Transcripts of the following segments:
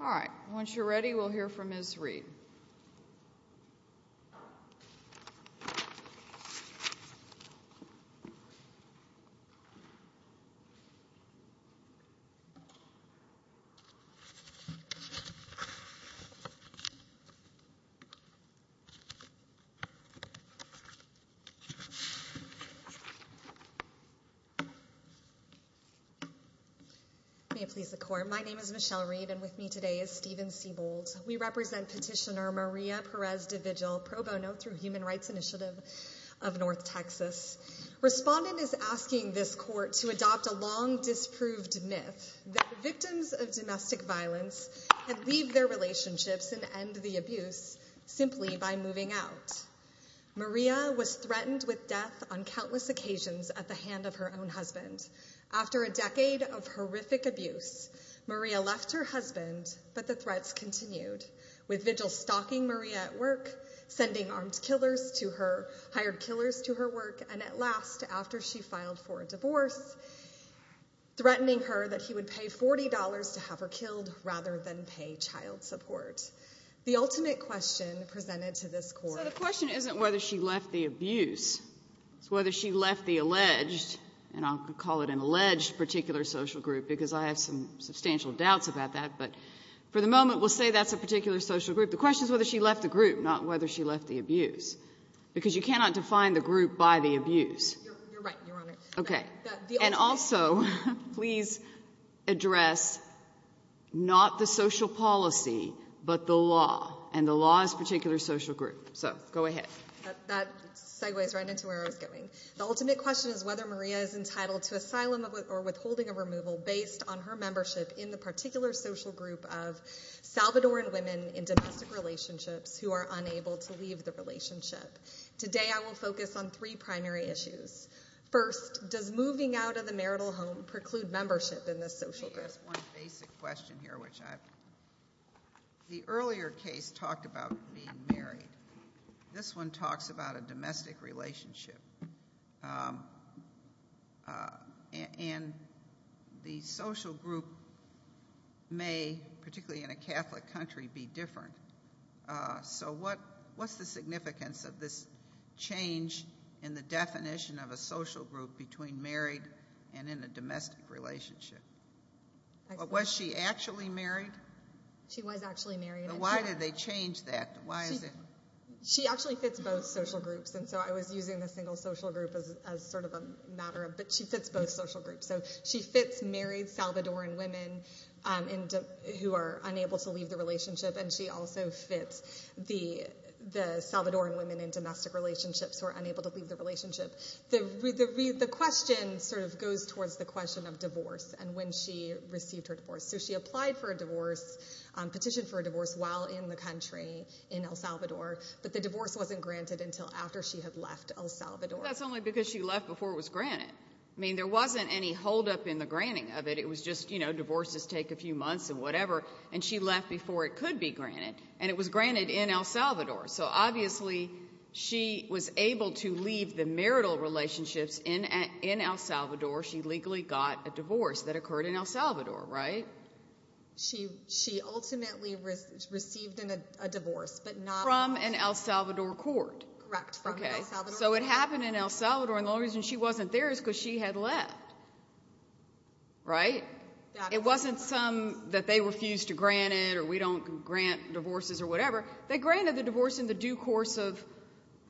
All right, once you're ready, we'll hear from Ms. Reed. May it please the Court, my name is Michelle Reed, and with me today is Stephen Sebold. We represent Petitioner Maria Perez-De Vigil, pro bono through Human Rights Initiative of North Texas. Respondent is asking this Court to adopt a long disproved myth that victims of domestic violence can leave their relationships and end the abuse simply by moving out. Maria was threatened with death on countless occasions at the hand of her own husband. After a decade of horrific abuse, Maria left her husband, but the threats continued, with Vigil stalking Maria at work, sending armed killers to her, hired killers to her work, and at last, after she filed for a divorce, threatening her that he would pay $40 to have her killed rather than pay child support. The ultimate question presented to this Court... So the question isn't whether she left the abuse, it's whether she left the alleged, and I'll call it an alleged particular social group because I have some substantial doubts about that, but for the moment, we'll say that's a particular social group. The question is whether she left the group, not whether she left the abuse, because you cannot define the group by the abuse. You're right, Your Honor. Okay. And also, please address not the social policy, but the law, and the law is a particular social group. So, go ahead. That segues right into where I was going. The ultimate question is whether Maria is entitled to asylum or withholding of removal based on her membership in the particular social group of Salvadoran women in domestic relationships who are unable to leave the relationship. Today I will focus on three primary issues. First, does moving out of the marital home preclude membership in this social group? Let me ask one basic question here, which I've... The earlier case talked about being married. This one talks about a domestic relationship, and the social group may, particularly in a Catholic country, be different. So what's the significance of this change in the definition of a social group between married and in a domestic relationship? Was she actually married? She was actually married. But why did they change that? Why is it... She actually fits both social groups, and so I was using the single social group as sort of a matter of, but she fits both social groups. So she fits married Salvadoran women who are unable to leave the relationship, and she also fits the Salvadoran women in domestic relationships who are unable to leave the relationship. The question sort of goes towards the question of divorce, and when she received her divorce. So she applied for a divorce, petitioned for a divorce while in the country, in El Salvador, but the divorce wasn't granted until after she had left El Salvador. That's only because she left before it was granted. I mean, there wasn't any holdup in the granting of it. It was just, you know, divorces take a few months and whatever, and she left before it could be granted, and it was granted in El Salvador. So obviously, she was able to leave the marital relationships in El Salvador. She legally got a divorce that occurred in El Salvador, right? She ultimately received a divorce, but not... From an El Salvador court. Correct. Okay. So it happened in El Salvador, and the only reason she wasn't there is because she had left, right? It wasn't some that they refused to grant it, or we don't grant divorces or whatever. They granted the divorce in the due course of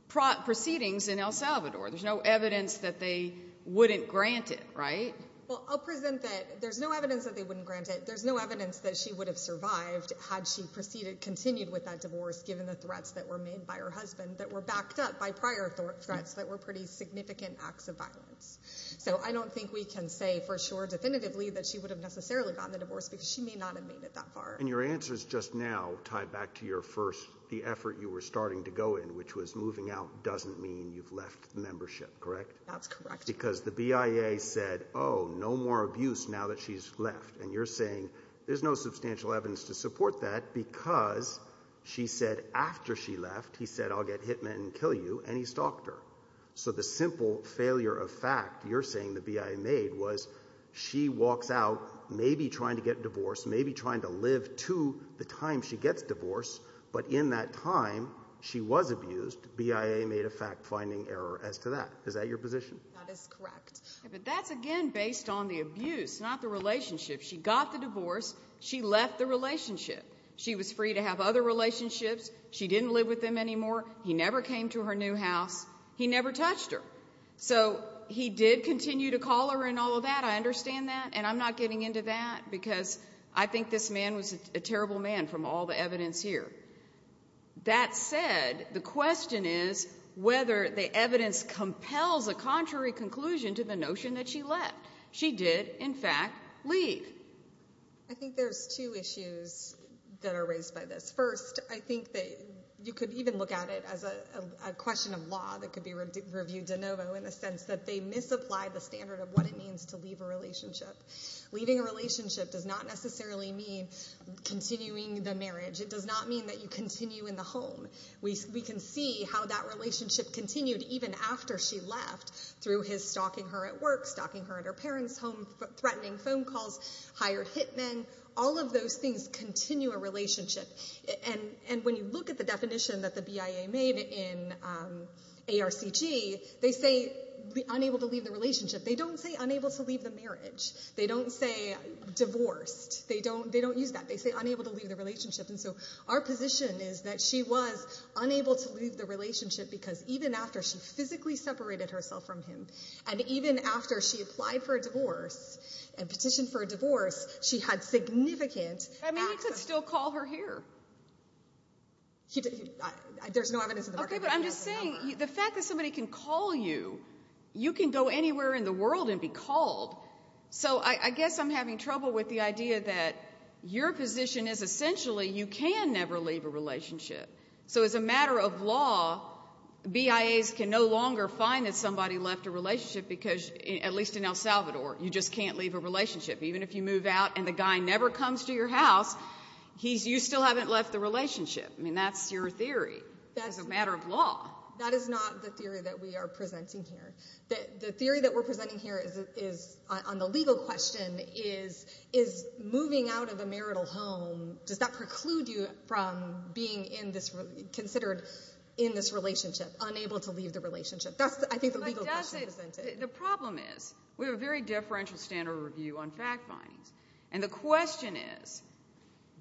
proceedings in El Salvador. There's no evidence that they wouldn't grant it, right? Well, I'll present that there's no evidence that they wouldn't grant it. There's no evidence that she would have survived had she proceeded, continued with that divorce given the threats that were made by her husband that were backed up by prior threats that were pretty significant acts of violence. So I don't think we can say for sure definitively that she would have necessarily gotten the divorce because she may not have made it that far. And your answers just now tie back to your first, the effort you were starting to go in, which was moving out doesn't mean you've left the membership, correct? That's correct. Because the BIA said, oh, no more abuse now that she's left, and you're saying there's no substantial evidence to support that because she said after she left, he said, I'll get hit men and kill you, and he stalked her. So the simple failure of fact you're saying the BIA made was she walks out maybe trying to get divorced, maybe trying to live to the time she gets divorced, but in that time, she was abused, BIA made a fact-finding error as to that. Is that your position? That is correct. But that's again based on the abuse, not the relationship. She got the divorce. She left the relationship. She was free to have other relationships. She didn't live with them anymore. He never came to her new house. He never touched her. So he did continue to call her and all of that, I understand that, and I'm not getting into that because I think this man was a terrible man from all the evidence here. That said, the question is whether the evidence compels a contrary conclusion to the notion that she left. She did, in fact, leave. I think there's two issues that are raised by this. First, I think that you could even look at it as a question of law that could be reviewed de novo in the sense that they misapplied the standard of what it means to leave a relationship. Leaving a relationship does not necessarily mean continuing the marriage. It does not mean that you continue in the home. We can see how that relationship continued even after she left through his stalking her at work, stalking her at her parents' home, threatening phone calls, hired hit men. All of those things continue a relationship. And when you look at the definition that the BIA made in ARCG, they say unable to leave the relationship. They don't say unable to leave the marriage. They don't say divorced. They don't use that. They say unable to leave the relationship. And so our position is that she was unable to leave the relationship because even after she physically separated herself from him, and even after she applied for a divorce and petitioned for a divorce, she had significant access. I mean, he could still call her here. There's no evidence in the market that he could have the number. Okay, but I'm just saying the fact that somebody can call you, you can go anywhere in the world and be called. So I guess I'm having trouble with the idea that your position is essentially you can never leave a relationship. So as a matter of law, BIAs can no longer find that somebody left a relationship because, at least in El Salvador, you just can't leave a relationship. Even if you move out and the guy never comes to your house, he's, you still haven't left the relationship. I mean, that's your theory as a matter of law. That is not the theory that we are presenting here. The theory that we're presenting here is, on the legal question, is moving out of a marital home, does that preclude you from being considered in this relationship, unable to leave the relationship? That's, I think, the legal question presented. The problem is, we have a very differential standard of review on fact findings. And the question is,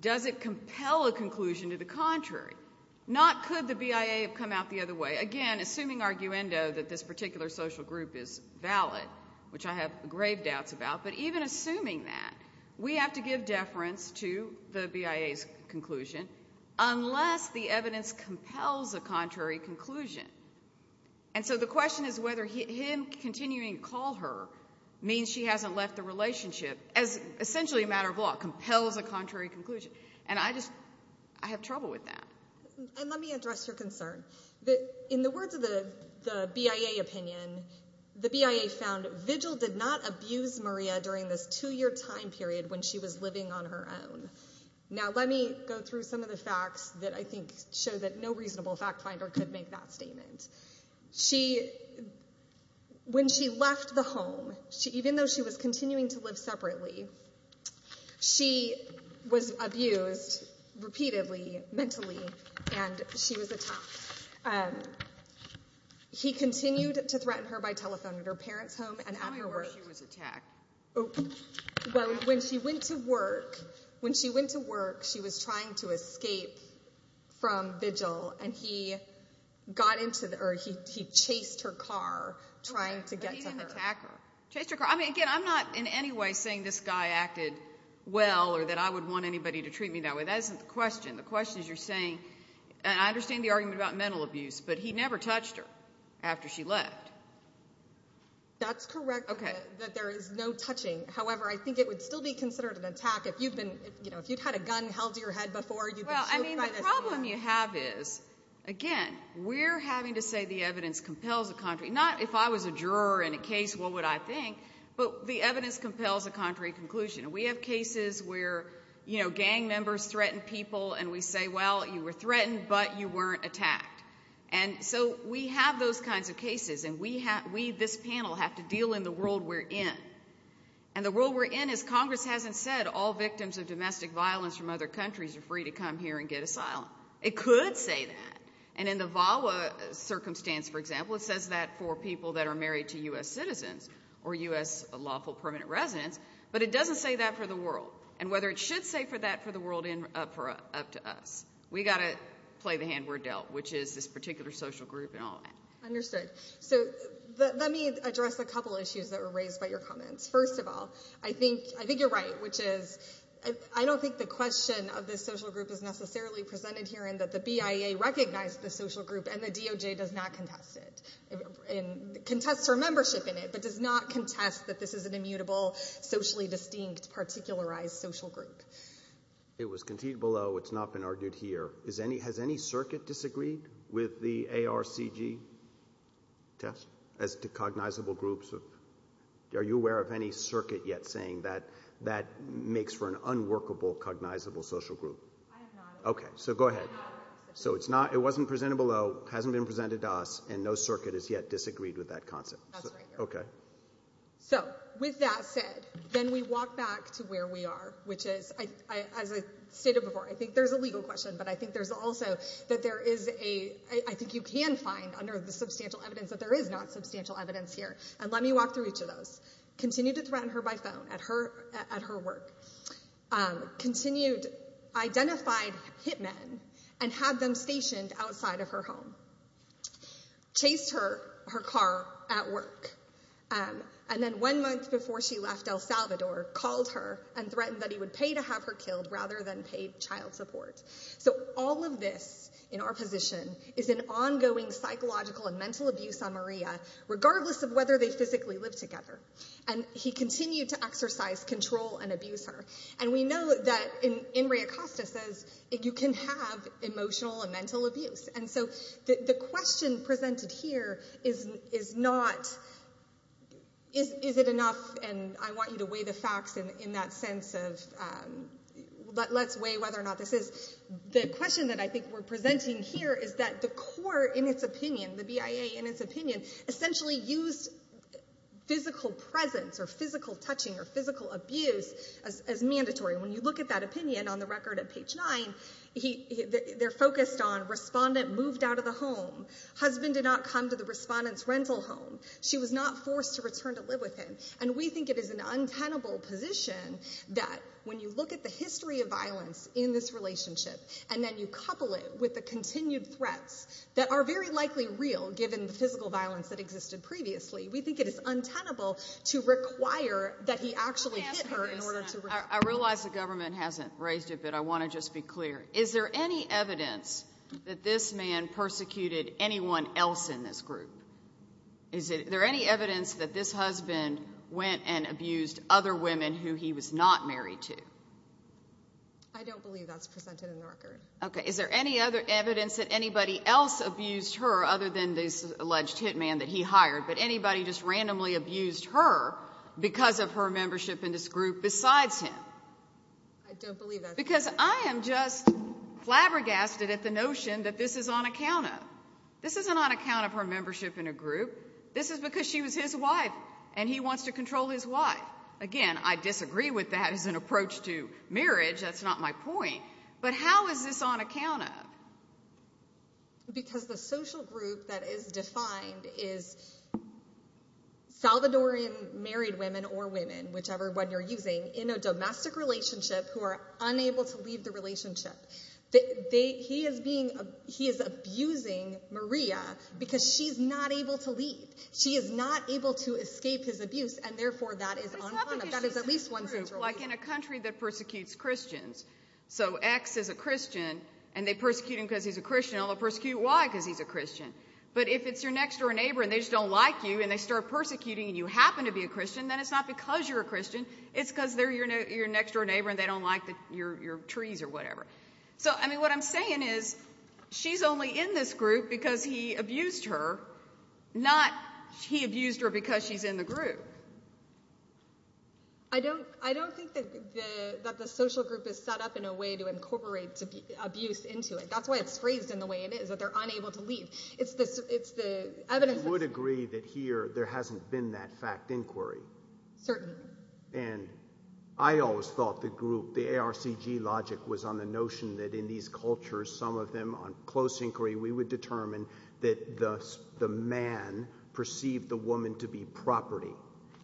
does it compel a conclusion to the contrary? Not could the BIA have come out the other way? Again, assuming arguendo that this particular social group is valid, which I have grave doubts about, but even assuming that, we have to give deference to the BIA's conclusion unless the evidence compels a contrary conclusion. And so the question is whether him continuing to call her means she hasn't left the relationship, as essentially a matter of law, compels a contrary conclusion. And I just, I have trouble with that. And let me address your concern. In the words of the BIA opinion, the BIA found Vigil did not abuse Maria during this two-year time period when she was living on her own. Now let me go through some of the facts that I think show that no reasonable fact finder could make that statement. When she left the home, even though she was continuing to live separately, she was abused repeatedly, mentally, and she was attacked. He continued to threaten her by telephone at her parents' home and at her work. Tell me where she was attacked. Well, when she went to work, when she went to work, she was trying to escape from Vigil and he got into the, or he chased her car trying to get to her. I didn't even attack her. Chased her car. I mean, again, I'm not in any way saying this guy acted well or that I would want anybody to treat me that way. That isn't the question. The question is you're saying, and I understand the argument about mental abuse, but he never touched her after she left. That's correct. Okay. That there is no touching. However, I think it would still be considered an attack if you'd had a gun held to your head before. Well, I mean, the problem you have is, again, we're having to say the evidence compels a contrary, not if I was a juror in a case, what would I think? But the evidence compels a contrary conclusion. We have cases where gang members threaten people and we say, well, you were threatened, but you weren't attacked. And so we have those kinds of cases and we, this panel, have to deal in the world we're in. And the world we're in, as Congress hasn't said, all victims of domestic violence from other countries are free to come here and get asylum. It could say that. And in the VAWA circumstance, for example, it says that for people that are married to And whether it should say for that for the world up to us, we've got to play the hand we're dealt, which is this particular social group and all that. Understood. So let me address a couple of issues that were raised by your comments. First of all, I think you're right, which is I don't think the question of this social group is necessarily presented here in that the BIA recognized the social group and the DOJ does not contest it, contests her membership in it, but does not contest that this is an unparticularized social group. It was conceded below. It's not been argued here. Has any circuit disagreed with the ARCG test as to cognizable groups? Are you aware of any circuit yet saying that that makes for an unworkable cognizable social group? I have not. Okay. So go ahead. So it wasn't presented below, hasn't been presented to us, and no circuit has yet disagreed with that concept. That's right. Okay. So with that said, then we walk back to where we are, which is, as I stated before, I think there's a legal question, but I think there's also that there is a, I think you can find under the substantial evidence that there is not substantial evidence here, and let me walk through each of those. Continued to threaten her by phone at her work. Continued identified hit men and had them stationed outside of her home. Chased her, her car, at work. And then one month before she left El Salvador, called her and threatened that he would pay to have her killed rather than pay child support. So all of this in our position is an ongoing psychological and mental abuse on Maria, regardless of whether they physically live together. And he continued to exercise control and abuse her. And we know that in Ray Acosta says, you can have emotional and mental abuse. And so the question presented here is not, is it enough, and I want you to weigh the facts in that sense of, let's weigh whether or not this is, the question that I think we're presenting here is that the court in its opinion, the BIA in its opinion, essentially used physical presence or physical touching or physical abuse as mandatory. When you look at that opinion on the record at page nine, they're focused on respondent moved out of the home. Husband did not come to the respondent's rental home. She was not forced to return to live with him. And we think it is an untenable position that when you look at the history of violence in this relationship, and then you couple it with the continued threats that are very likely real given the physical violence that existed previously, we think it is untenable to require that he actually hit her in order to- I realize the government hasn't raised it, but I want to just be clear. Is there any evidence that this man persecuted anyone else in this group? Is there any evidence that this husband went and abused other women who he was not married to? I don't believe that's presented in the record. Okay. Is there any other evidence that anybody else abused her other than this alleged hit man that he hired, but anybody just randomly abused her because of her membership in this group besides him? I don't believe that's- Because I am just flabbergasted at the notion that this is on account of. This isn't on account of her membership in a group. This is because she was his wife, and he wants to control his wife. Again, I disagree with that as an approach to marriage. That's not my point. But how is this on account of? Because the social group that is defined is Salvadorian married women or women, whichever one you're using, in a domestic relationship who are unable to leave the relationship. He is abusing Maria because she's not able to leave. She is not able to escape his abuse, and therefore that is on account of. That is at least one central reason. But it's not because she's in a group like in a country that persecutes Christians. So X is a Christian, and they persecute him because he's a Christian, and they'll persecute Y because he's a Christian. But if it's your next door neighbor, and they just don't like you, and they start persecuting you, and you happen to be a Christian, then it's not because you're a Christian. It's because they're your next door neighbor, and they don't like your trees or whatever. So what I'm saying is she's only in this group because he abused her, not he abused her because she's in the group. I don't think that the social group is set up in a way to incorporate abuse into it. That's why it's phrased in the way it is, that they're unable to leave. I would agree that here there hasn't been that fact inquiry. Certainly. And I always thought the group, the ARCG logic, was on the notion that in these cultures, some of them on close inquiry, we would determine that the man perceived the woman to be property,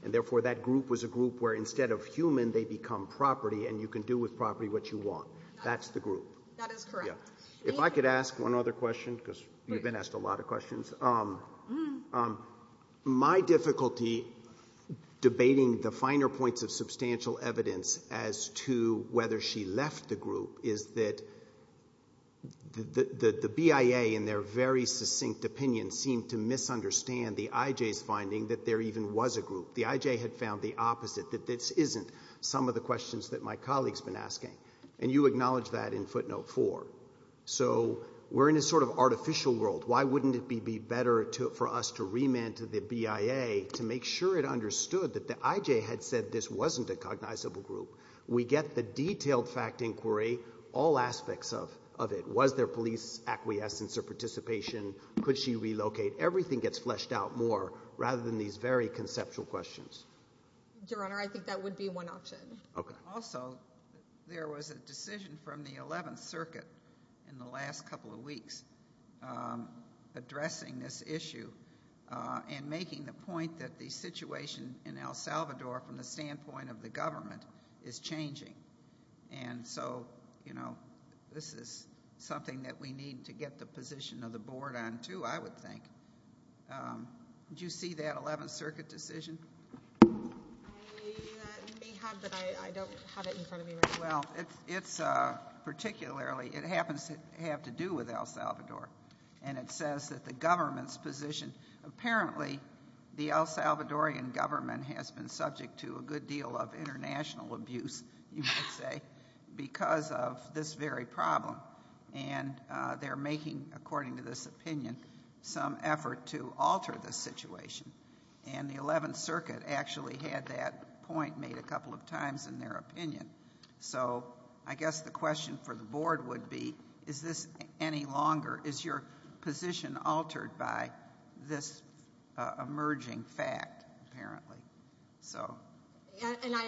and therefore that group was a group where instead of human, they become property, and you can do with property what you want. That's the group. That is correct. If I could ask one other question, because you've been asked a lot of questions. My difficulty debating the finer points of substantial evidence as to whether she left the group is that the BIA in their very succinct opinion seemed to misunderstand the IJ's finding that there even was a group. The IJ had found the opposite, that this isn't some of the questions that my colleague's been asking. And you acknowledged that in footnote four. So we're in a sort of artificial world. Why wouldn't it be better for us to remand to the BIA to make sure it understood that the IJ had said this wasn't a cognizable group? We get the detailed fact inquiry, all aspects of it. Was there police acquiescence or participation? Could she relocate? Everything gets fleshed out more rather than these very conceptual questions. Your Honor, I think that would be one option. Also, there was a decision from the 11th Circuit in the last couple of weeks addressing this issue and making the point that the situation in El Salvador from the standpoint of the government is changing. And so, you know, this is something that we need to get the position of the board on too, I would think. Did you see that 11th Circuit decision? I may have, but I don't have it in front of me right now. Well, it's particularly, it happens to have to do with El Salvador. And it says that the government's position, apparently the El Salvadorian government has been subject to a good deal of international abuse, you might say, because of this very problem. And they're making, according to this opinion, some effort to alter the situation. And the 11th Circuit actually had that point made a couple of times in their opinion. So I guess the question for the board would be, is this any longer? Is your position altered by this emerging fact, apparently? So. And I,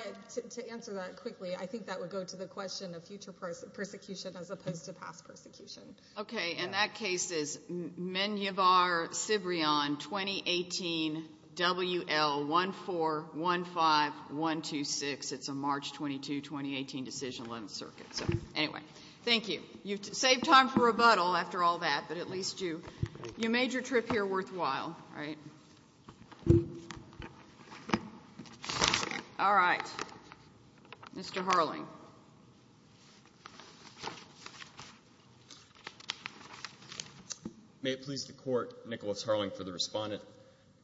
to answer that quickly, I think that would go to the question of future persecution as opposed to past persecution. Okay. And that case is Menjivar-Cibrian, 2018, WL1415126. It's a March 22, 2018 decision on the 11th Circuit. So, anyway. Thank you. You've saved time for rebuttal after all that, but at least you made your trip here worthwhile. All right. All right. Mr. Harling. May it please the Court, Nicholas Harling for the respondent.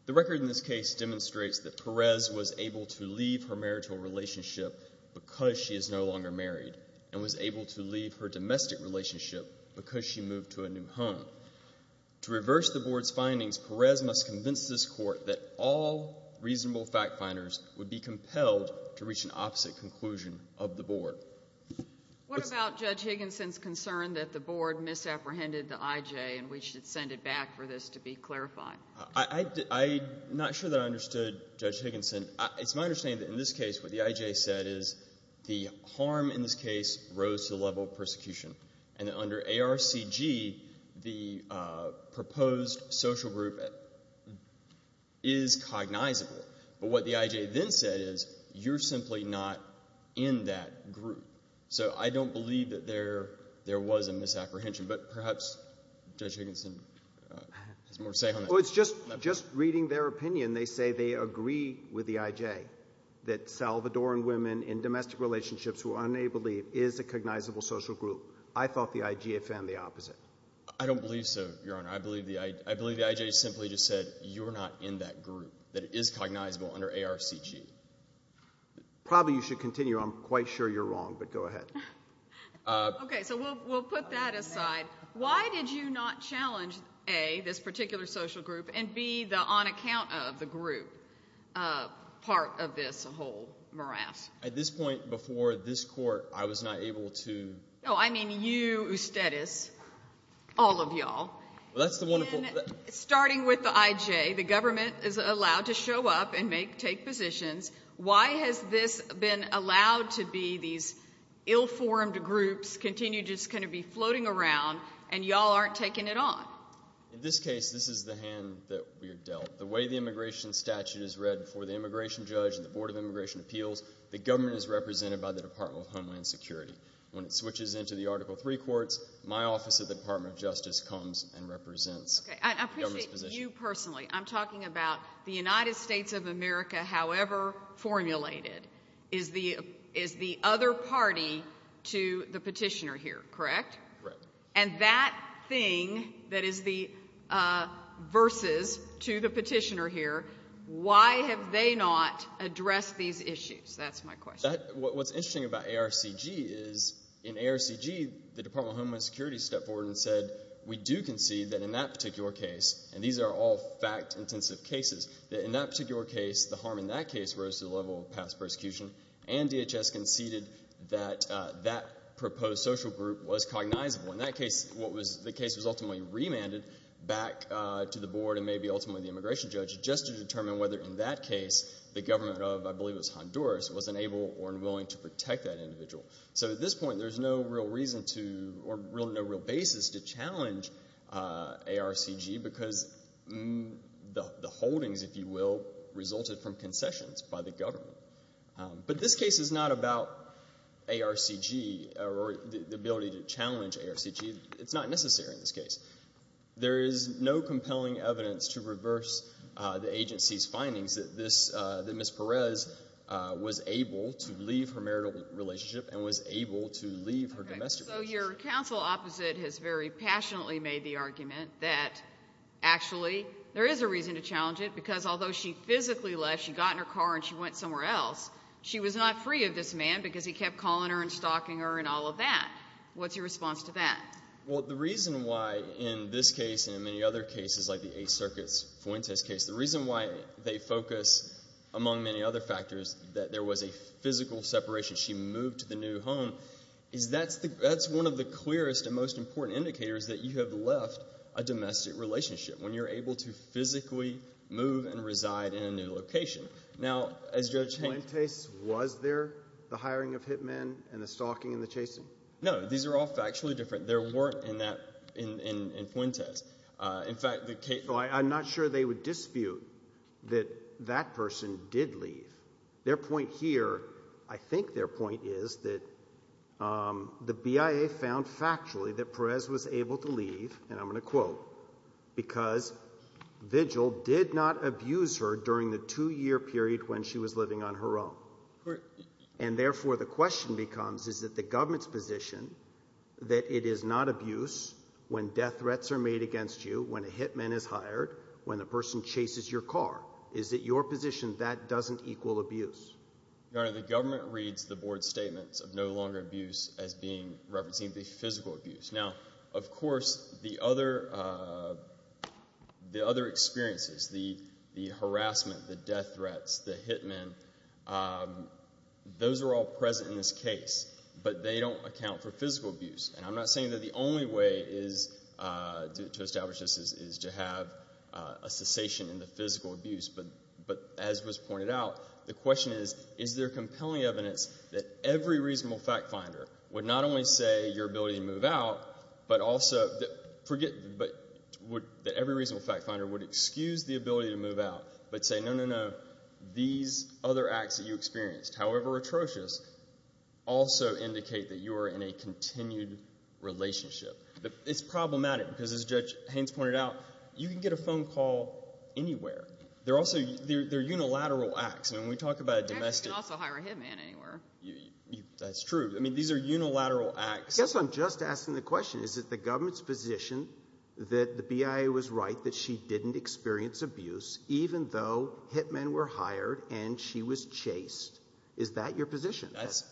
The record in this case demonstrates that Perez was able to leave her marital relationship because she is no longer married and was able to leave her domestic relationship because she moved to a new home. To reverse the board's findings, Perez must convince this Court that all reasonable fact-finders would be compelled to reach an opposite conclusion of the board. What about Judge Higginson's concern that the board misapprehended the IJ and we should send it back for this to be clarified? I'm not sure that I understood Judge Higginson. It's my understanding that in this case what the IJ said is the harm in this case rose to the level of persecution, and that under ARCG, the proposed social group is cognizable. But what the IJ then said is you're simply not in that group. So I don't believe that there was a misapprehension, but perhaps Judge Higginson has more to say on that. Well, it's just reading their opinion, they say they agree with the IJ that Salvadoran women in domestic relationships who are unable to leave is a cognizable social group. I thought the IJ had found the opposite. I don't believe so, Your Honor. I believe the IJ simply just said you're not in that group, that it is cognizable under ARCG. Probably you should continue. I'm quite sure you're wrong, but go ahead. Okay, so we'll put that aside. Why did you not challenge A, this particular social group, and B, the on-account of the group part of this whole morass? At this point before this court, I was not able to... No, I mean you, Ustedes, all of y'all. Well, that's the wonderful... In starting with the IJ, the government is allowed to show up and take positions. Why has this been allowed to be these ill-formed groups continue to just kind of be floating around and y'all aren't taking it on? In this case, this is the hand that we are dealt. The way the immigration statute is read for the immigration judge and the Board of Immigration Appeals, the government is represented by the Department of Homeland Security. When it switches into the Article III courts, my office at the Department of Justice comes and represents the government's position. Okay. I appreciate you personally. I'm talking about the United States of America, however formulated, is the other party to the petitioner here, correct? Correct. And that thing that is the versus to the petitioner here, why have they not addressed these issues? That's my question. What's interesting about ARCG is, in ARCG, the Department of Homeland Security stepped forward and said, we do concede that in that particular case, and these are all fact-intensive cases, that in that particular case, the harm in that case rose to the level of past persecution and DHS conceded that that proposed social group was cognizable. In that case, the case was ultimately remanded back to the board and maybe ultimately the immigration judge just to determine whether in that case, the government of, I believe it was Honduras, was unable or unwilling to protect that individual. So at this point, there's no real reason to, or really no real basis to challenge ARCG because the holdings, if you will, resulted from concessions by the government. But this case is not about ARCG or the ability to challenge ARCG. It's not necessary in this case. There is no compelling evidence to reverse the agency's findings that this, that Ms. Perez was able to leave her marital relationship and was able to leave her domestic relationship. So your counsel opposite has very passionately made the argument that actually there is a reason to challenge it because although she physically left, she got in her car and she went somewhere else, she was not free of this man because he kept calling her and stalking her and all of that. What's your response to that? Well, the reason why in this case and in many other cases like the Eighth Circuit's Fuentes case, the reason why they focus, among many other factors, that there was a physical separation, she moved to the new home, is that's the, that's one of the clearest and most important indicators that you have left a domestic relationship when you're able to physically move and reside in a new location. Now as Judge Haynes- Fuentes, was there the hiring of hit men and the stalking and the chasing? No, these are all factually different. There weren't in that, in Fuentes. In fact, the case- Well, I'm not sure they would dispute that that person did leave. Their point here, I think their point is that the BIA found factually that Perez was able to leave, and I'm going to quote, because vigil did not abuse her during the two-year period when she was living on her own. And therefore, the question becomes, is that the government's position that it is not abuse when death threats are made against you, when a hit man is hired, when a person chases your car, is that your position that doesn't equal abuse? Your Honor, the government reads the board's statements of no longer abuse as being, referencing the physical abuse. Now, of course, the other experiences, the harassment, the death threats, the hit men, those are all present in this case, but they don't account for physical abuse. And I'm not saying that the only way to establish this is to have a cessation in the physical abuse, but as was pointed out, the question is, is there compelling evidence that every reasonable fact finder would excuse the ability to move out, but say, no, no, no, these other acts that you experienced, however atrocious, also indicate that you are in a continued relationship. It's problematic, because as Judge Haynes pointed out, you can get a phone call anywhere. They're unilateral acts. I mean, when we talk about a domestic... Actually, you can also hire a hit man anywhere. That's true. I mean, these are unilateral acts. I guess I'm just asking the question, is it the government's position that the BIA was right that she didn't experience abuse, even though hit men were hired and she was chased? Is that your position?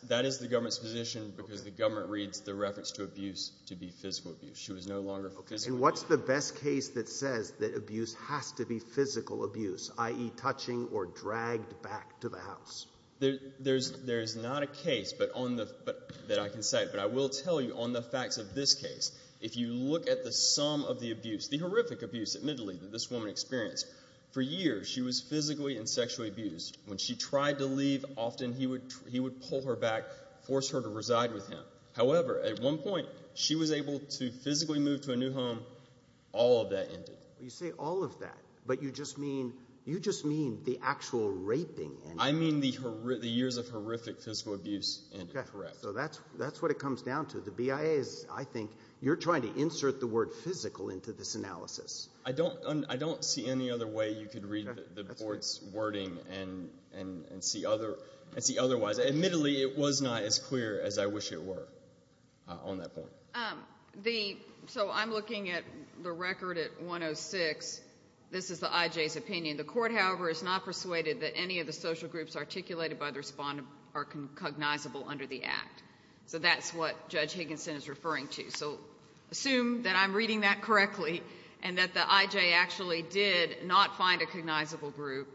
That is the government's position, because the government reads the reference to abuse to be physical abuse. She was no longer physical. Okay. And what's the best case that says that abuse has to be physical abuse, i.e. touching or dragged back to the house? There's not a case that I can cite, but I will tell you on the facts of this case, if you look at the sum of the abuse, the horrific abuse, admittedly, that this woman experienced, for years she was physically and sexually abused. When she tried to leave, often he would pull her back, force her to reside with him. However, at one point, she was able to physically move to a new home. All of that ended. You say all of that, but you just mean the actual raping. I mean the years of horrific physical abuse ended. Correct. So that's what it comes down to. The BIA is, I think, you're trying to insert the word physical into this analysis. I don't see any other way you could read the Board's wording and see otherwise. Admittedly, it was not as clear as I wish it were on that point. So I'm looking at the record at 106. This is the IJ's opinion. The court, however, is not persuaded that any of the social groups articulated by the respondent are cognizable under the act. So that's what Judge Higginson is referring to. So assume that I'm reading that correctly and that the IJ actually did not find a cognizable group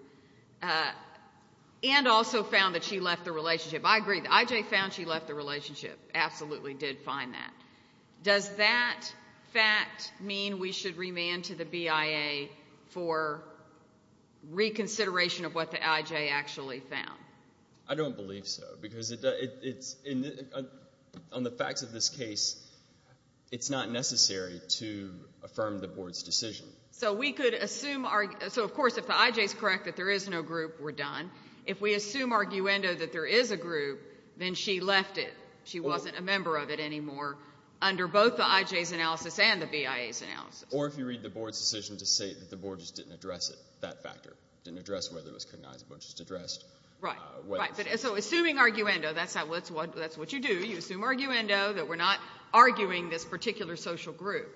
and also found that she left the relationship. I agree. The IJ found she left the relationship, absolutely did find that. Does that fact mean we should remand to the BIA for reconsideration of what the IJ actually found? I don't believe so, because on the facts of this case, it's not necessary to affirm the Board's decision. So we could assume, of course, if the IJ is correct that there is no group, we're done. If we assume arguendo that there is a group, then she left it. She wasn't a member of it anymore under both the IJ's analysis and the BIA's analysis. Or if you read the Board's decision to say that the Board just didn't address it, that factor, didn't address whether it was cognizable, just addressed what it was. So assuming arguendo, that's what you do, you assume arguendo that we're not arguing this particular social group.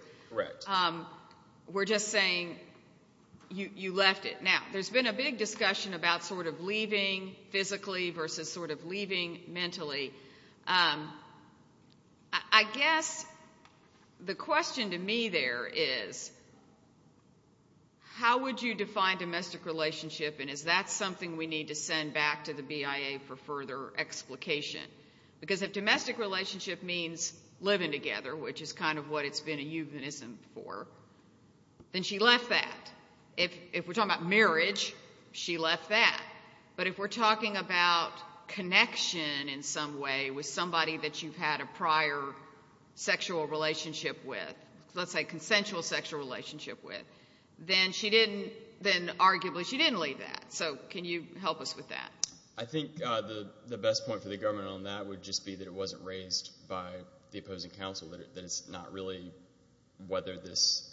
We're just saying you left it. Now, there's been a big discussion about sort of leaving physically versus sort of leaving mentally. I guess the question to me there is, how would you define domestic relationship and is that something we need to send back to the BIA for further explication? Because if domestic relationship means living together, which is kind of what it's been a euphemism for, then she left that. If we're talking about marriage, she left that. But if we're talking about connection in some way with somebody that you've had a prior sexual relationship with, let's say consensual sexual relationship with, then arguably she didn't leave that. So can you help us with that? I think the best point for the government on that would just be that it wasn't raised by the opposing counsel, that it's not really whether this...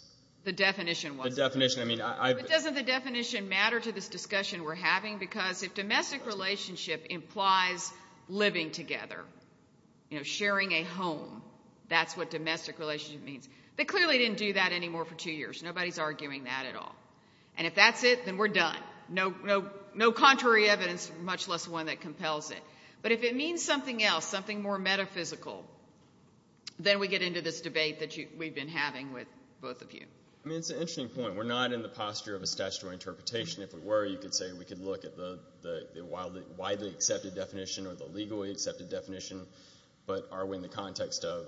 The definition wasn't. The definition, I mean... But doesn't the definition matter to this discussion we're having? Because if domestic relationship implies living together, sharing a home, that's what domestic relationship means. They clearly didn't do that anymore for two years. Nobody's arguing that at all. And if that's it, then we're done. No contrary evidence, much less one that compels it. But if it means something else, something more metaphysical, then we get into this debate that we've been having with both of you. I mean, it's an interesting point. I mean, we're not in the posture of a statutory interpretation. If we were, you could say we could look at the widely accepted definition or the legally accepted definition. But are we in the context of...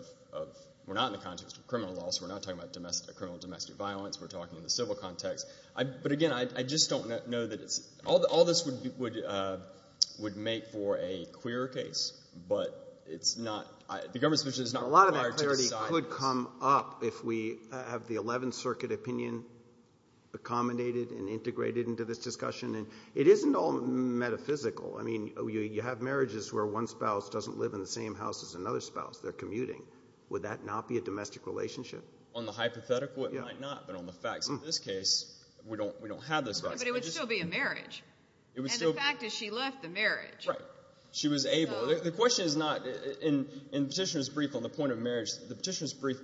We're not in the context of criminal law, so we're not talking about criminal domestic violence. We're talking in the civil context. But again, I just don't know that it's... All this would make for a queer case, but it's not... The government's position is not required to decide... I mean, you have marriages where one spouse doesn't live in the same house as another spouse. They're commuting. Would that not be a domestic relationship? On the hypothetical, it might not. But on the facts, in this case, we don't have those facts. But it would still be a marriage. And the fact is, she left the marriage. Right. She was able... The question is not... In Petitioner's Brief on the point of marriage, the Petitioner's Brief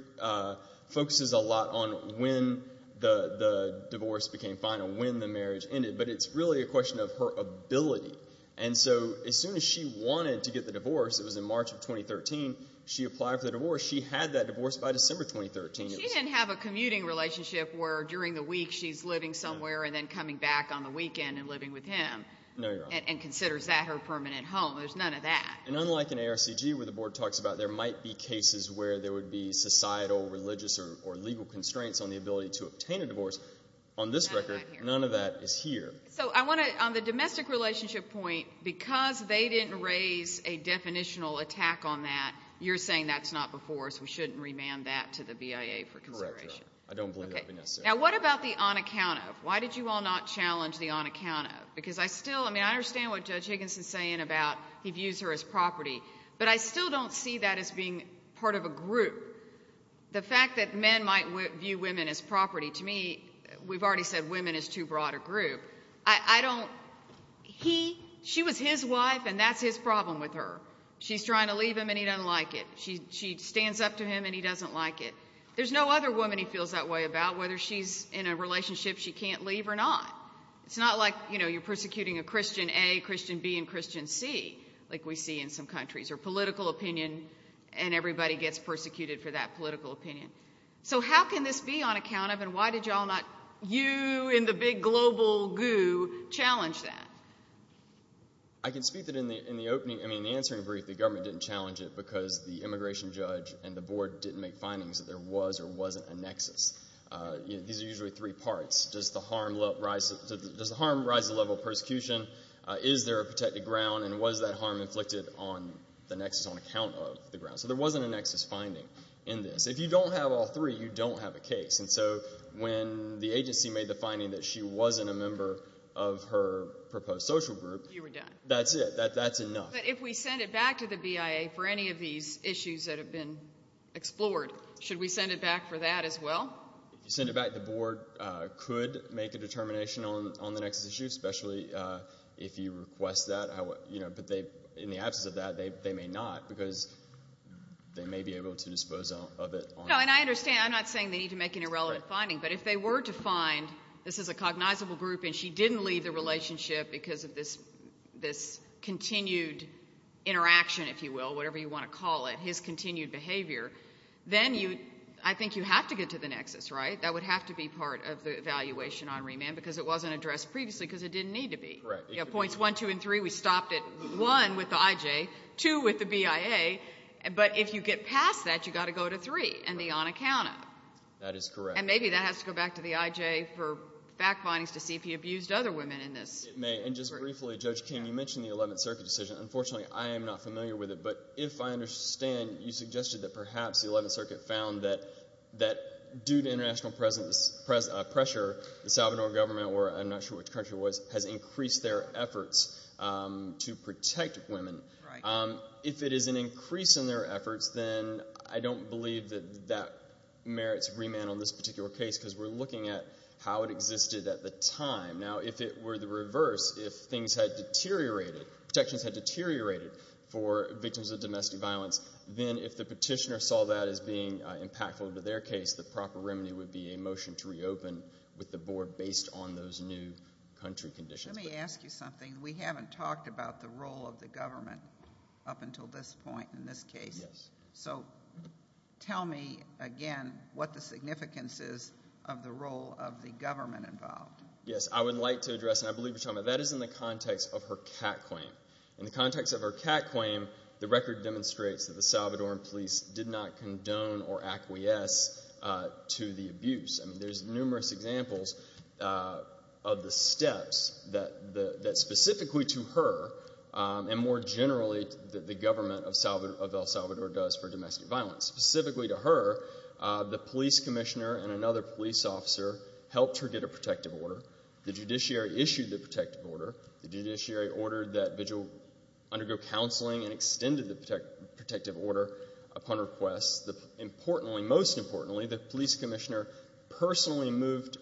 focuses a lot on when the divorce became final, when the marriage ended. But it's really a question of her ability. And so, as soon as she wanted to get the divorce, it was in March of 2013, she applied for the divorce. She had that divorce by December 2013. She didn't have a commuting relationship where during the week she's living somewhere and then coming back on the weekend and living with him and considers that her permanent home. There's none of that. And unlike in ARCG, where the board talks about there might be cases where there would be societal, religious, or legal constraints on the ability to obtain a divorce, on this record, none of that is here. So I want to... On the domestic relationship point, because they didn't raise a definitional attack on that, you're saying that's not before us, we shouldn't remand that to the BIA for consideration? Correct. I don't believe that would be necessary. Now, what about the on account of? Why did you all not challenge the on account of? Because I still... I mean, I understand what Judge Higginson's saying about he views her as property. But I still don't see that as being part of a group. The fact that men might view women as property, to me, we've already said women is too broad a group. I don't... He... She was his wife and that's his problem with her. She's trying to leave him and he doesn't like it. She stands up to him and he doesn't like it. There's no other woman he feels that way about, whether she's in a relationship she can't leave or not. It's not like, you know, you're persecuting a Christian A, Christian B, and Christian C, like we see in some countries, or political opinion and everybody gets persecuted for that political opinion. So how can this be on account of and why did you all not, you in the big global goo, challenge that? I can speak to it in the opening. I mean, in the answering brief, the government didn't challenge it because the immigration judge and the board didn't make findings that there was or wasn't a nexus. These are usually three parts. Does the harm rise to the level of persecution? Is there a protected ground and was that harm inflicted on the nexus on account of the ground? So there wasn't a nexus finding in this. If you don't have all three, you don't have a case. And so when the agency made the finding that she wasn't a member of her proposed social group... You were done. That's it. That's enough. But if we send it back to the BIA for any of these issues that have been explored, should we send it back for that as well? If you send it back, the board could make a determination on the nexus issue, especially if you request that. But in the absence of that, they may not because they may be able to dispose of it. No, and I understand. I'm not saying they need to make an irrelevant finding, but if they were to find this is a cognizable group and she didn't leave the relationship because of this continued interaction, if you will, whatever you want to call it, his continued behavior, then I think you have to get to the nexus, right? That would have to be part of the evaluation on remand because it wasn't addressed previously because it didn't need to be. Correct. You have points 1, 2, and 3. We stopped at 1 with the IJ, 2 with the BIA. But if you get past that, you've got to go to 3 and the on account of. That is correct. And maybe that has to go back to the IJ for fact findings to see if he abused other women in this. It may. And just briefly, Judge King, you mentioned the Eleventh Circuit decision. Unfortunately, I am not familiar with it, but if I understand, you suggested that perhaps the Eleventh Circuit found that due to international pressure, the Salvadoran government, or I'm not sure which country it was, has increased their efforts to protect women. If it is an increase in their efforts, then I don't believe that merits remand on this particular case because we're looking at how it existed at the time. Now if it were the reverse, if things had deteriorated, protections had deteriorated for victims of domestic violence, then if the petitioner saw that as being impactful to their case, the proper remedy would be a motion to reopen with the board based on those new country conditions. Let me ask you something. We haven't talked about the role of the government up until this point in this case. So tell me again what the significance is of the role of the government involved. Yes. I would like to address, and I believe you're telling me, that is in the context of her cat claim. In the context of her cat claim, the record demonstrates that the Salvadoran police did not condone or acquiesce to the abuse. I mean, there's numerous examples of the steps that specifically to her, and more generally the government of El Salvador does for domestic violence. Specifically to her, the police commissioner and another police officer helped her get a protective order. The judiciary issued the protective order. The judiciary ordered that vigil undergo counseling and extended the protective order upon request. Importantly, most importantly, the police commissioner personally moved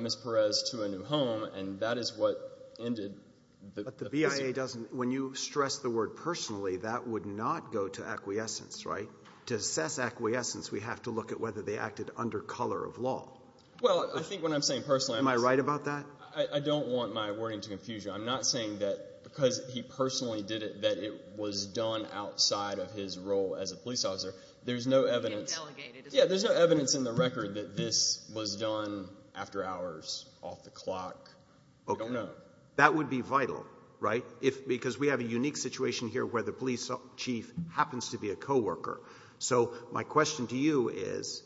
Ms. Perez to a new home, and that is what ended the prison. But the BIA doesn't – when you stress the word personally, that would not go to acquiescence, right? To assess acquiescence, we have to look at whether they acted under color of law. Well, I think what I'm saying personally – Am I right about that? I don't want my wording to confuse you. I'm not saying that because he personally did it, that it was done outside of his role as a police officer. There's no evidence – It was delegated. Yeah, there's no evidence in the record that this was done after hours, off the clock. I don't know. That would be vital, right? Because we have a unique situation here where the police chief happens to be a co-worker. So my question to you is,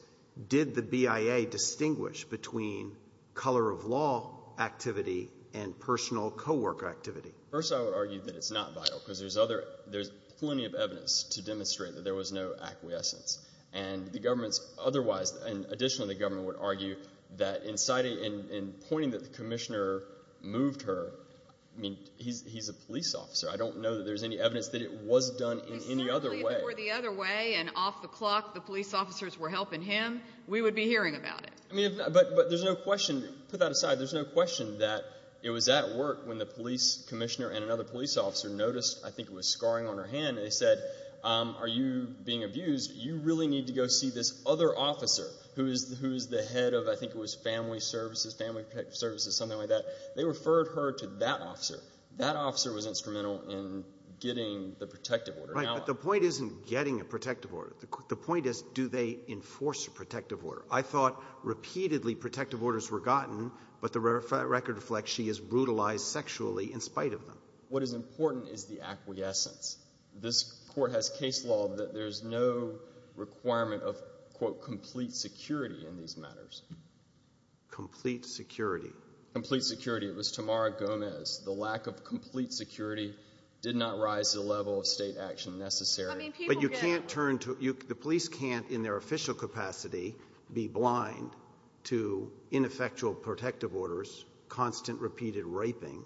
did the BIA distinguish between color of law activity and personal co-worker activity? First, I would argue that it's not vital, because there's other – there's plenty of evidence to demonstrate that there was no acquiescence. And the government's otherwise – and additionally, the government would argue that in pointing that the commissioner moved her – I mean, he's a police officer. I don't know that there's any evidence that it was done in any other way. If it were the other way and off the clock the police officers were helping him, we would be hearing about it. I mean, but there's no question – put that aside. There's no question that it was at work when the police commissioner and another police officer noticed, I think it was scarring on her hand, and they said, are you being abused? You really need to go see this other officer who is the head of – I think it was family services, family protective services, something like that. That officer was instrumental in getting the protective order out. Right, but the point isn't getting a protective order. The point is, do they enforce a protective order? I thought repeatedly protective orders were gotten, but the record reflects she is brutalized sexually in spite of them. What is important is the acquiescence. This Court has case law that there's no requirement of, quote, complete security in these matters. Complete security. Complete security. It was Tamara Gomez. The lack of complete security did not rise to the level of state action necessary. But you can't turn to – the police can't, in their official capacity, be blind to ineffectual protective orders, constant, repeated raping,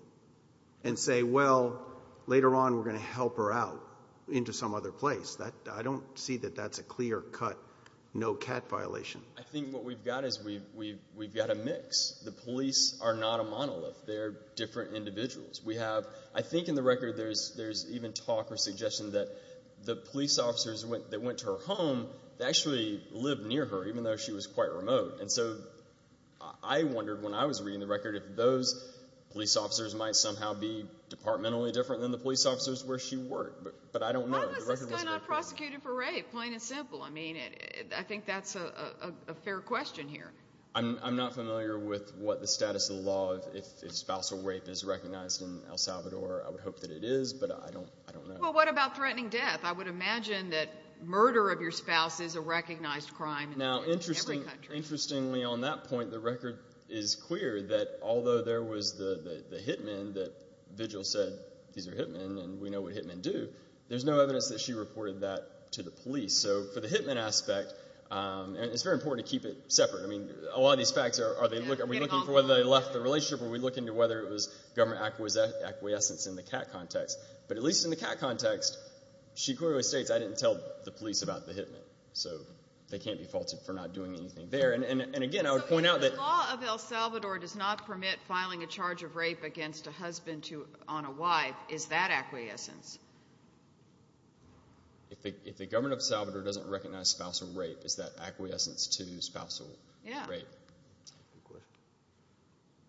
and say, well, later on, we're going to help her out into some other place. I don't see that that's a clear-cut, no-cat violation. I think what we've got is we've got a mix. The police are not a monolith. They're different individuals. We have – I think in the record, there's even talk or suggestion that the police officers that went to her home, they actually lived near her, even though she was quite remote. And so I wondered, when I was reading the record, if those police officers might somehow be departmentally different than the police officers where she worked. But I don't know. Why was this guy not prosecuted for rape? Plain and simple. I mean, I think that's a fair question here. I'm not familiar with what the status of the law is if spousal rape is recognized in El Salvador. I would hope that it is, but I don't know. Well, what about threatening death? I would imagine that murder of your spouse is a recognized crime in every country. Now, interestingly, on that point, the record is clear that although there was the hitmen that vigil said, these are hitmen, and we know what hitmen do, there's no evidence that she reported that to the police. So for the hitmen aspect – and it's very important to keep it separate. A lot of these facts, are we looking for whether they left the relationship, or are we looking to whether it was government acquiescence in the CAT context? But at least in the CAT context, she clearly states, I didn't tell the police about the hitmen. So they can't be faulted for not doing anything there. And again, I would point out that – So if the law of El Salvador does not permit filing a charge of rape against a husband on a wife, is that acquiescence? If the government of El Salvador doesn't recognize spousal rape, is that acquiescence to spousal rape? Yeah.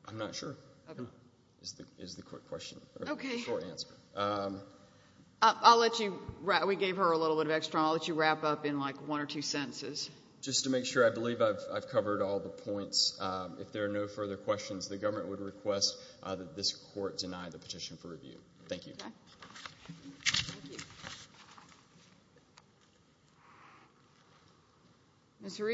I'm not sure. Is the quick question. Okay. I'll let you – we gave her a little bit of extra, and I'll let you wrap up in like one or two sentences. Just to make sure, I believe I've covered all the points. If there are no further questions, the government would request that this court deny the petition for review. Thank you. Okay. Thank you. Ms. Reid? I'd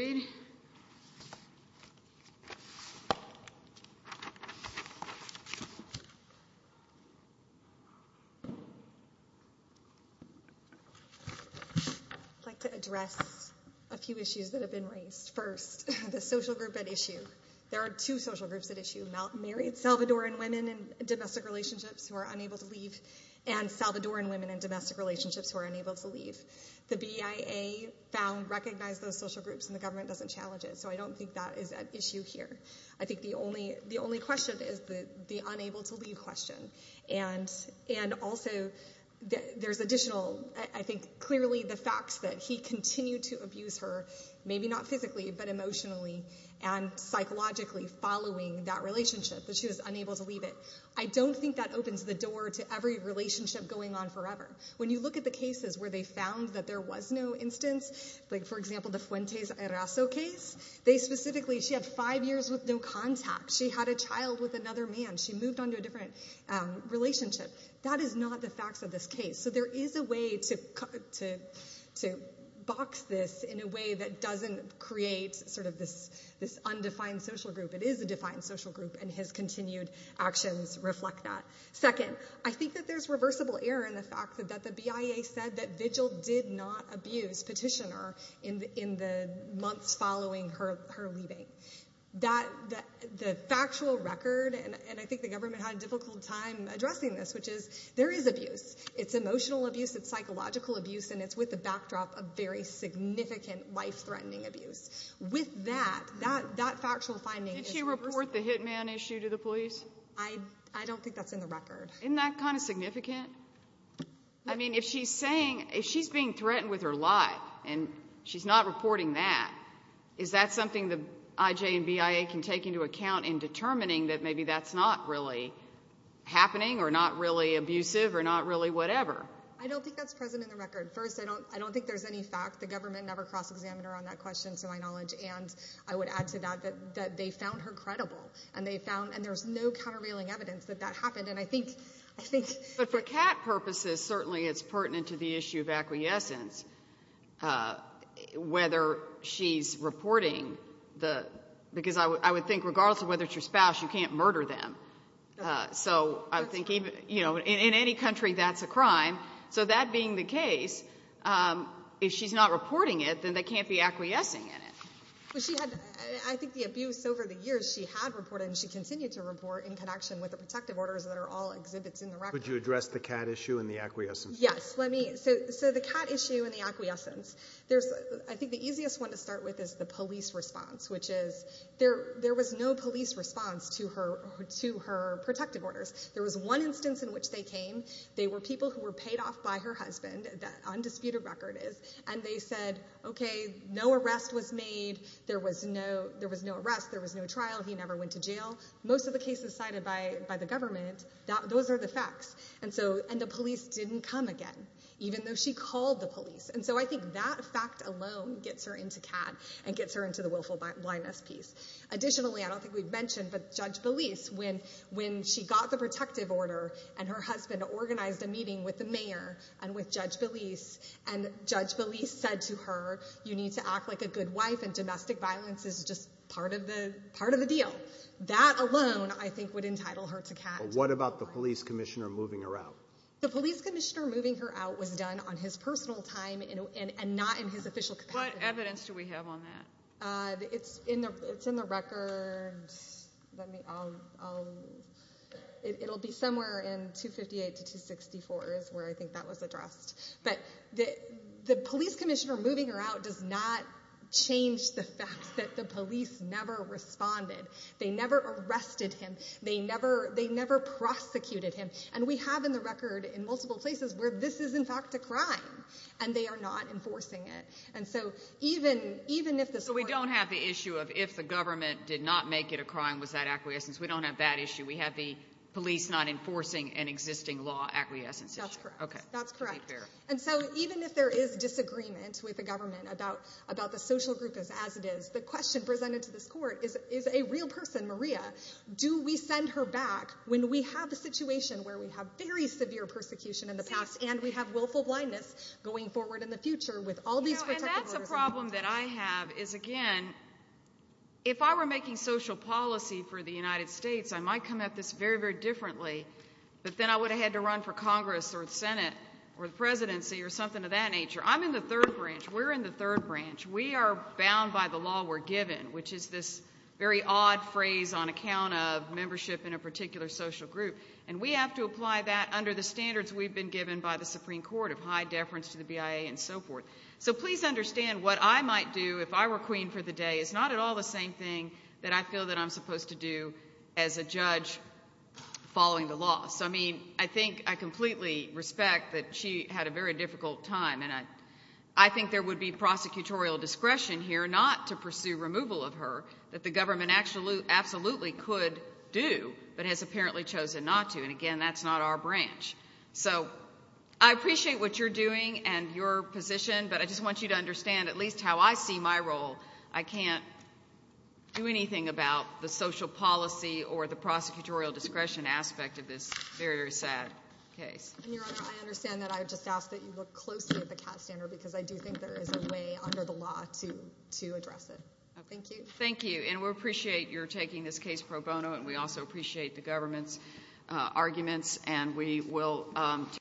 like to address a few issues that have been raised. First, the social group at issue. There are two social groups at issue, married Salvadoran women in domestic relationships who are unable to leave, and Salvadoran women in domestic relationships who are unable to leave. The BIA found, recognized those social groups, and the government doesn't challenge it. So I don't think that is at issue here. I think the only question is the unable to leave question. And also, there's additional – I think clearly the facts that he continued to abuse her, maybe not physically, but emotionally and psychologically following that relationship, that she was unable to leave it. I don't think that opens the door to every relationship going on forever. When you look at the cases where they found that there was no instance, like for example the Fuentes-Eraso case, they specifically – she had five years with no contact. She had a child with another man. She moved on to a different relationship. That is not the facts of this case. So there is a way to box this in a way that doesn't create sort of this undefined social group. It is a defined social group, and his continued actions reflect that. Second, I think that there's reversible error in the fact that the BIA said that Vigil did not abuse Petitioner in the months following her leaving. That – the factual record, and I think the government had a difficult time addressing this, which is there is abuse. It's emotional abuse, it's psychological abuse, and it's with the backdrop of very significant life-threatening abuse. With that, that factual finding – Did she report the hitman issue to the police? I don't think that's in the record. Isn't that kind of significant? I mean, if she's saying – if she's being threatened with her life, and she's not reporting that, is that something the IJ and BIA can take into account in determining that maybe that's not really happening, or not really abusive, or not really whatever? I don't think that's present in the record. First, I don't think there's any fact. The government never cross-examined her on that question, to my knowledge, and I would add to that that they found her credible, and they found – and there's no countervailing evidence that that happened. And I think – I think – But for CAT purposes, certainly it's pertinent to the issue of acquiescence, whether she's reporting the – because I would think regardless of whether it's your spouse, you can't murder them. So I think even – in any country, that's a crime. So that being the case, if she's not reporting it, then they can't be acquiescing in it. But she had – I think the abuse over the years, she had reported, and she continued to report in connection with the protective orders that are all exhibits in the record. Could you address the CAT issue and the acquiescence? Yes. Let me – so the CAT issue and the acquiescence, there's – I think the easiest one to start with is the police response, which is there was no police response to her protective orders. There was one instance in which they came. They were people who were paid off by her husband, that undisputed record is, and they said, okay, no arrest was made. There was no – there was no arrest. There was no trial. He never went to jail. Most of the cases cited by the government, those are the facts. And so – and the police didn't come again, even though she called the police. And so I think that fact alone gets her into CAT and gets her into the willful blindness piece. Additionally, I don't think we've mentioned, but Judge Belise, when she got the protective order and her husband organized a meeting with the mayor and with Judge Belise, and Judge Belise said to her, you need to act like a good wife and domestic violence is just part of the – part of the deal. That alone, I think, would entitle her to CAT. But what about the police commissioner moving her out? The police commissioner moving her out was done on his personal time and not in his official capacity. What evidence do we have on that? It's in the – it's in the record. Let me – I'll – it'll be somewhere in 258 to 264 is where I think that was addressed. But the police commissioner moving her out does not change the fact that the police never responded. They never arrested him. They never – they never prosecuted him. And we have in the record in multiple places where this is, in fact, a crime, and they are not enforcing it. And so even – even if this – So we don't have the issue of if the government did not make it a crime, was that acquiescence? We don't have that issue. We have the police not enforcing an existing law acquiescence issue. That's correct. Okay. That's correct. And so even if there is disagreement with the government about – about the social group as it is, the question presented to this court is, is a real person, Maria, do we send her back when we have a situation where we have very severe persecution in protective orders? The problem that I have is, again, if I were making social policy for the United States, I might come at this very, very differently, but then I would have had to run for Congress or the Senate or the presidency or something of that nature. I'm in the third branch. We're in the third branch. We are bound by the law we're given, which is this very odd phrase on account of membership in a particular social group. And we have to apply that under the standards we've been given by the Supreme Court of high deference to the BIA and so forth. So please understand what I might do if I were queen for the day is not at all the same thing that I feel that I'm supposed to do as a judge following the law. So, I mean, I think – I completely respect that she had a very difficult time, and I think there would be prosecutorial discretion here not to pursue removal of her that the government absolutely could do but has apparently chosen not to. And, again, that's not our branch. So I appreciate what you're doing and your position, but I just want you to understand at least how I see my role. I can't do anything about the social policy or the prosecutorial discretion aspect of this very, very sad case. And, Your Honor, I understand that. I just ask that you look closely at the CAT standard because I do think there is a way under the law to address it. Thank you. Thank you. And we appreciate your taking this case pro bono, and we also appreciate the government's arguments, and we will –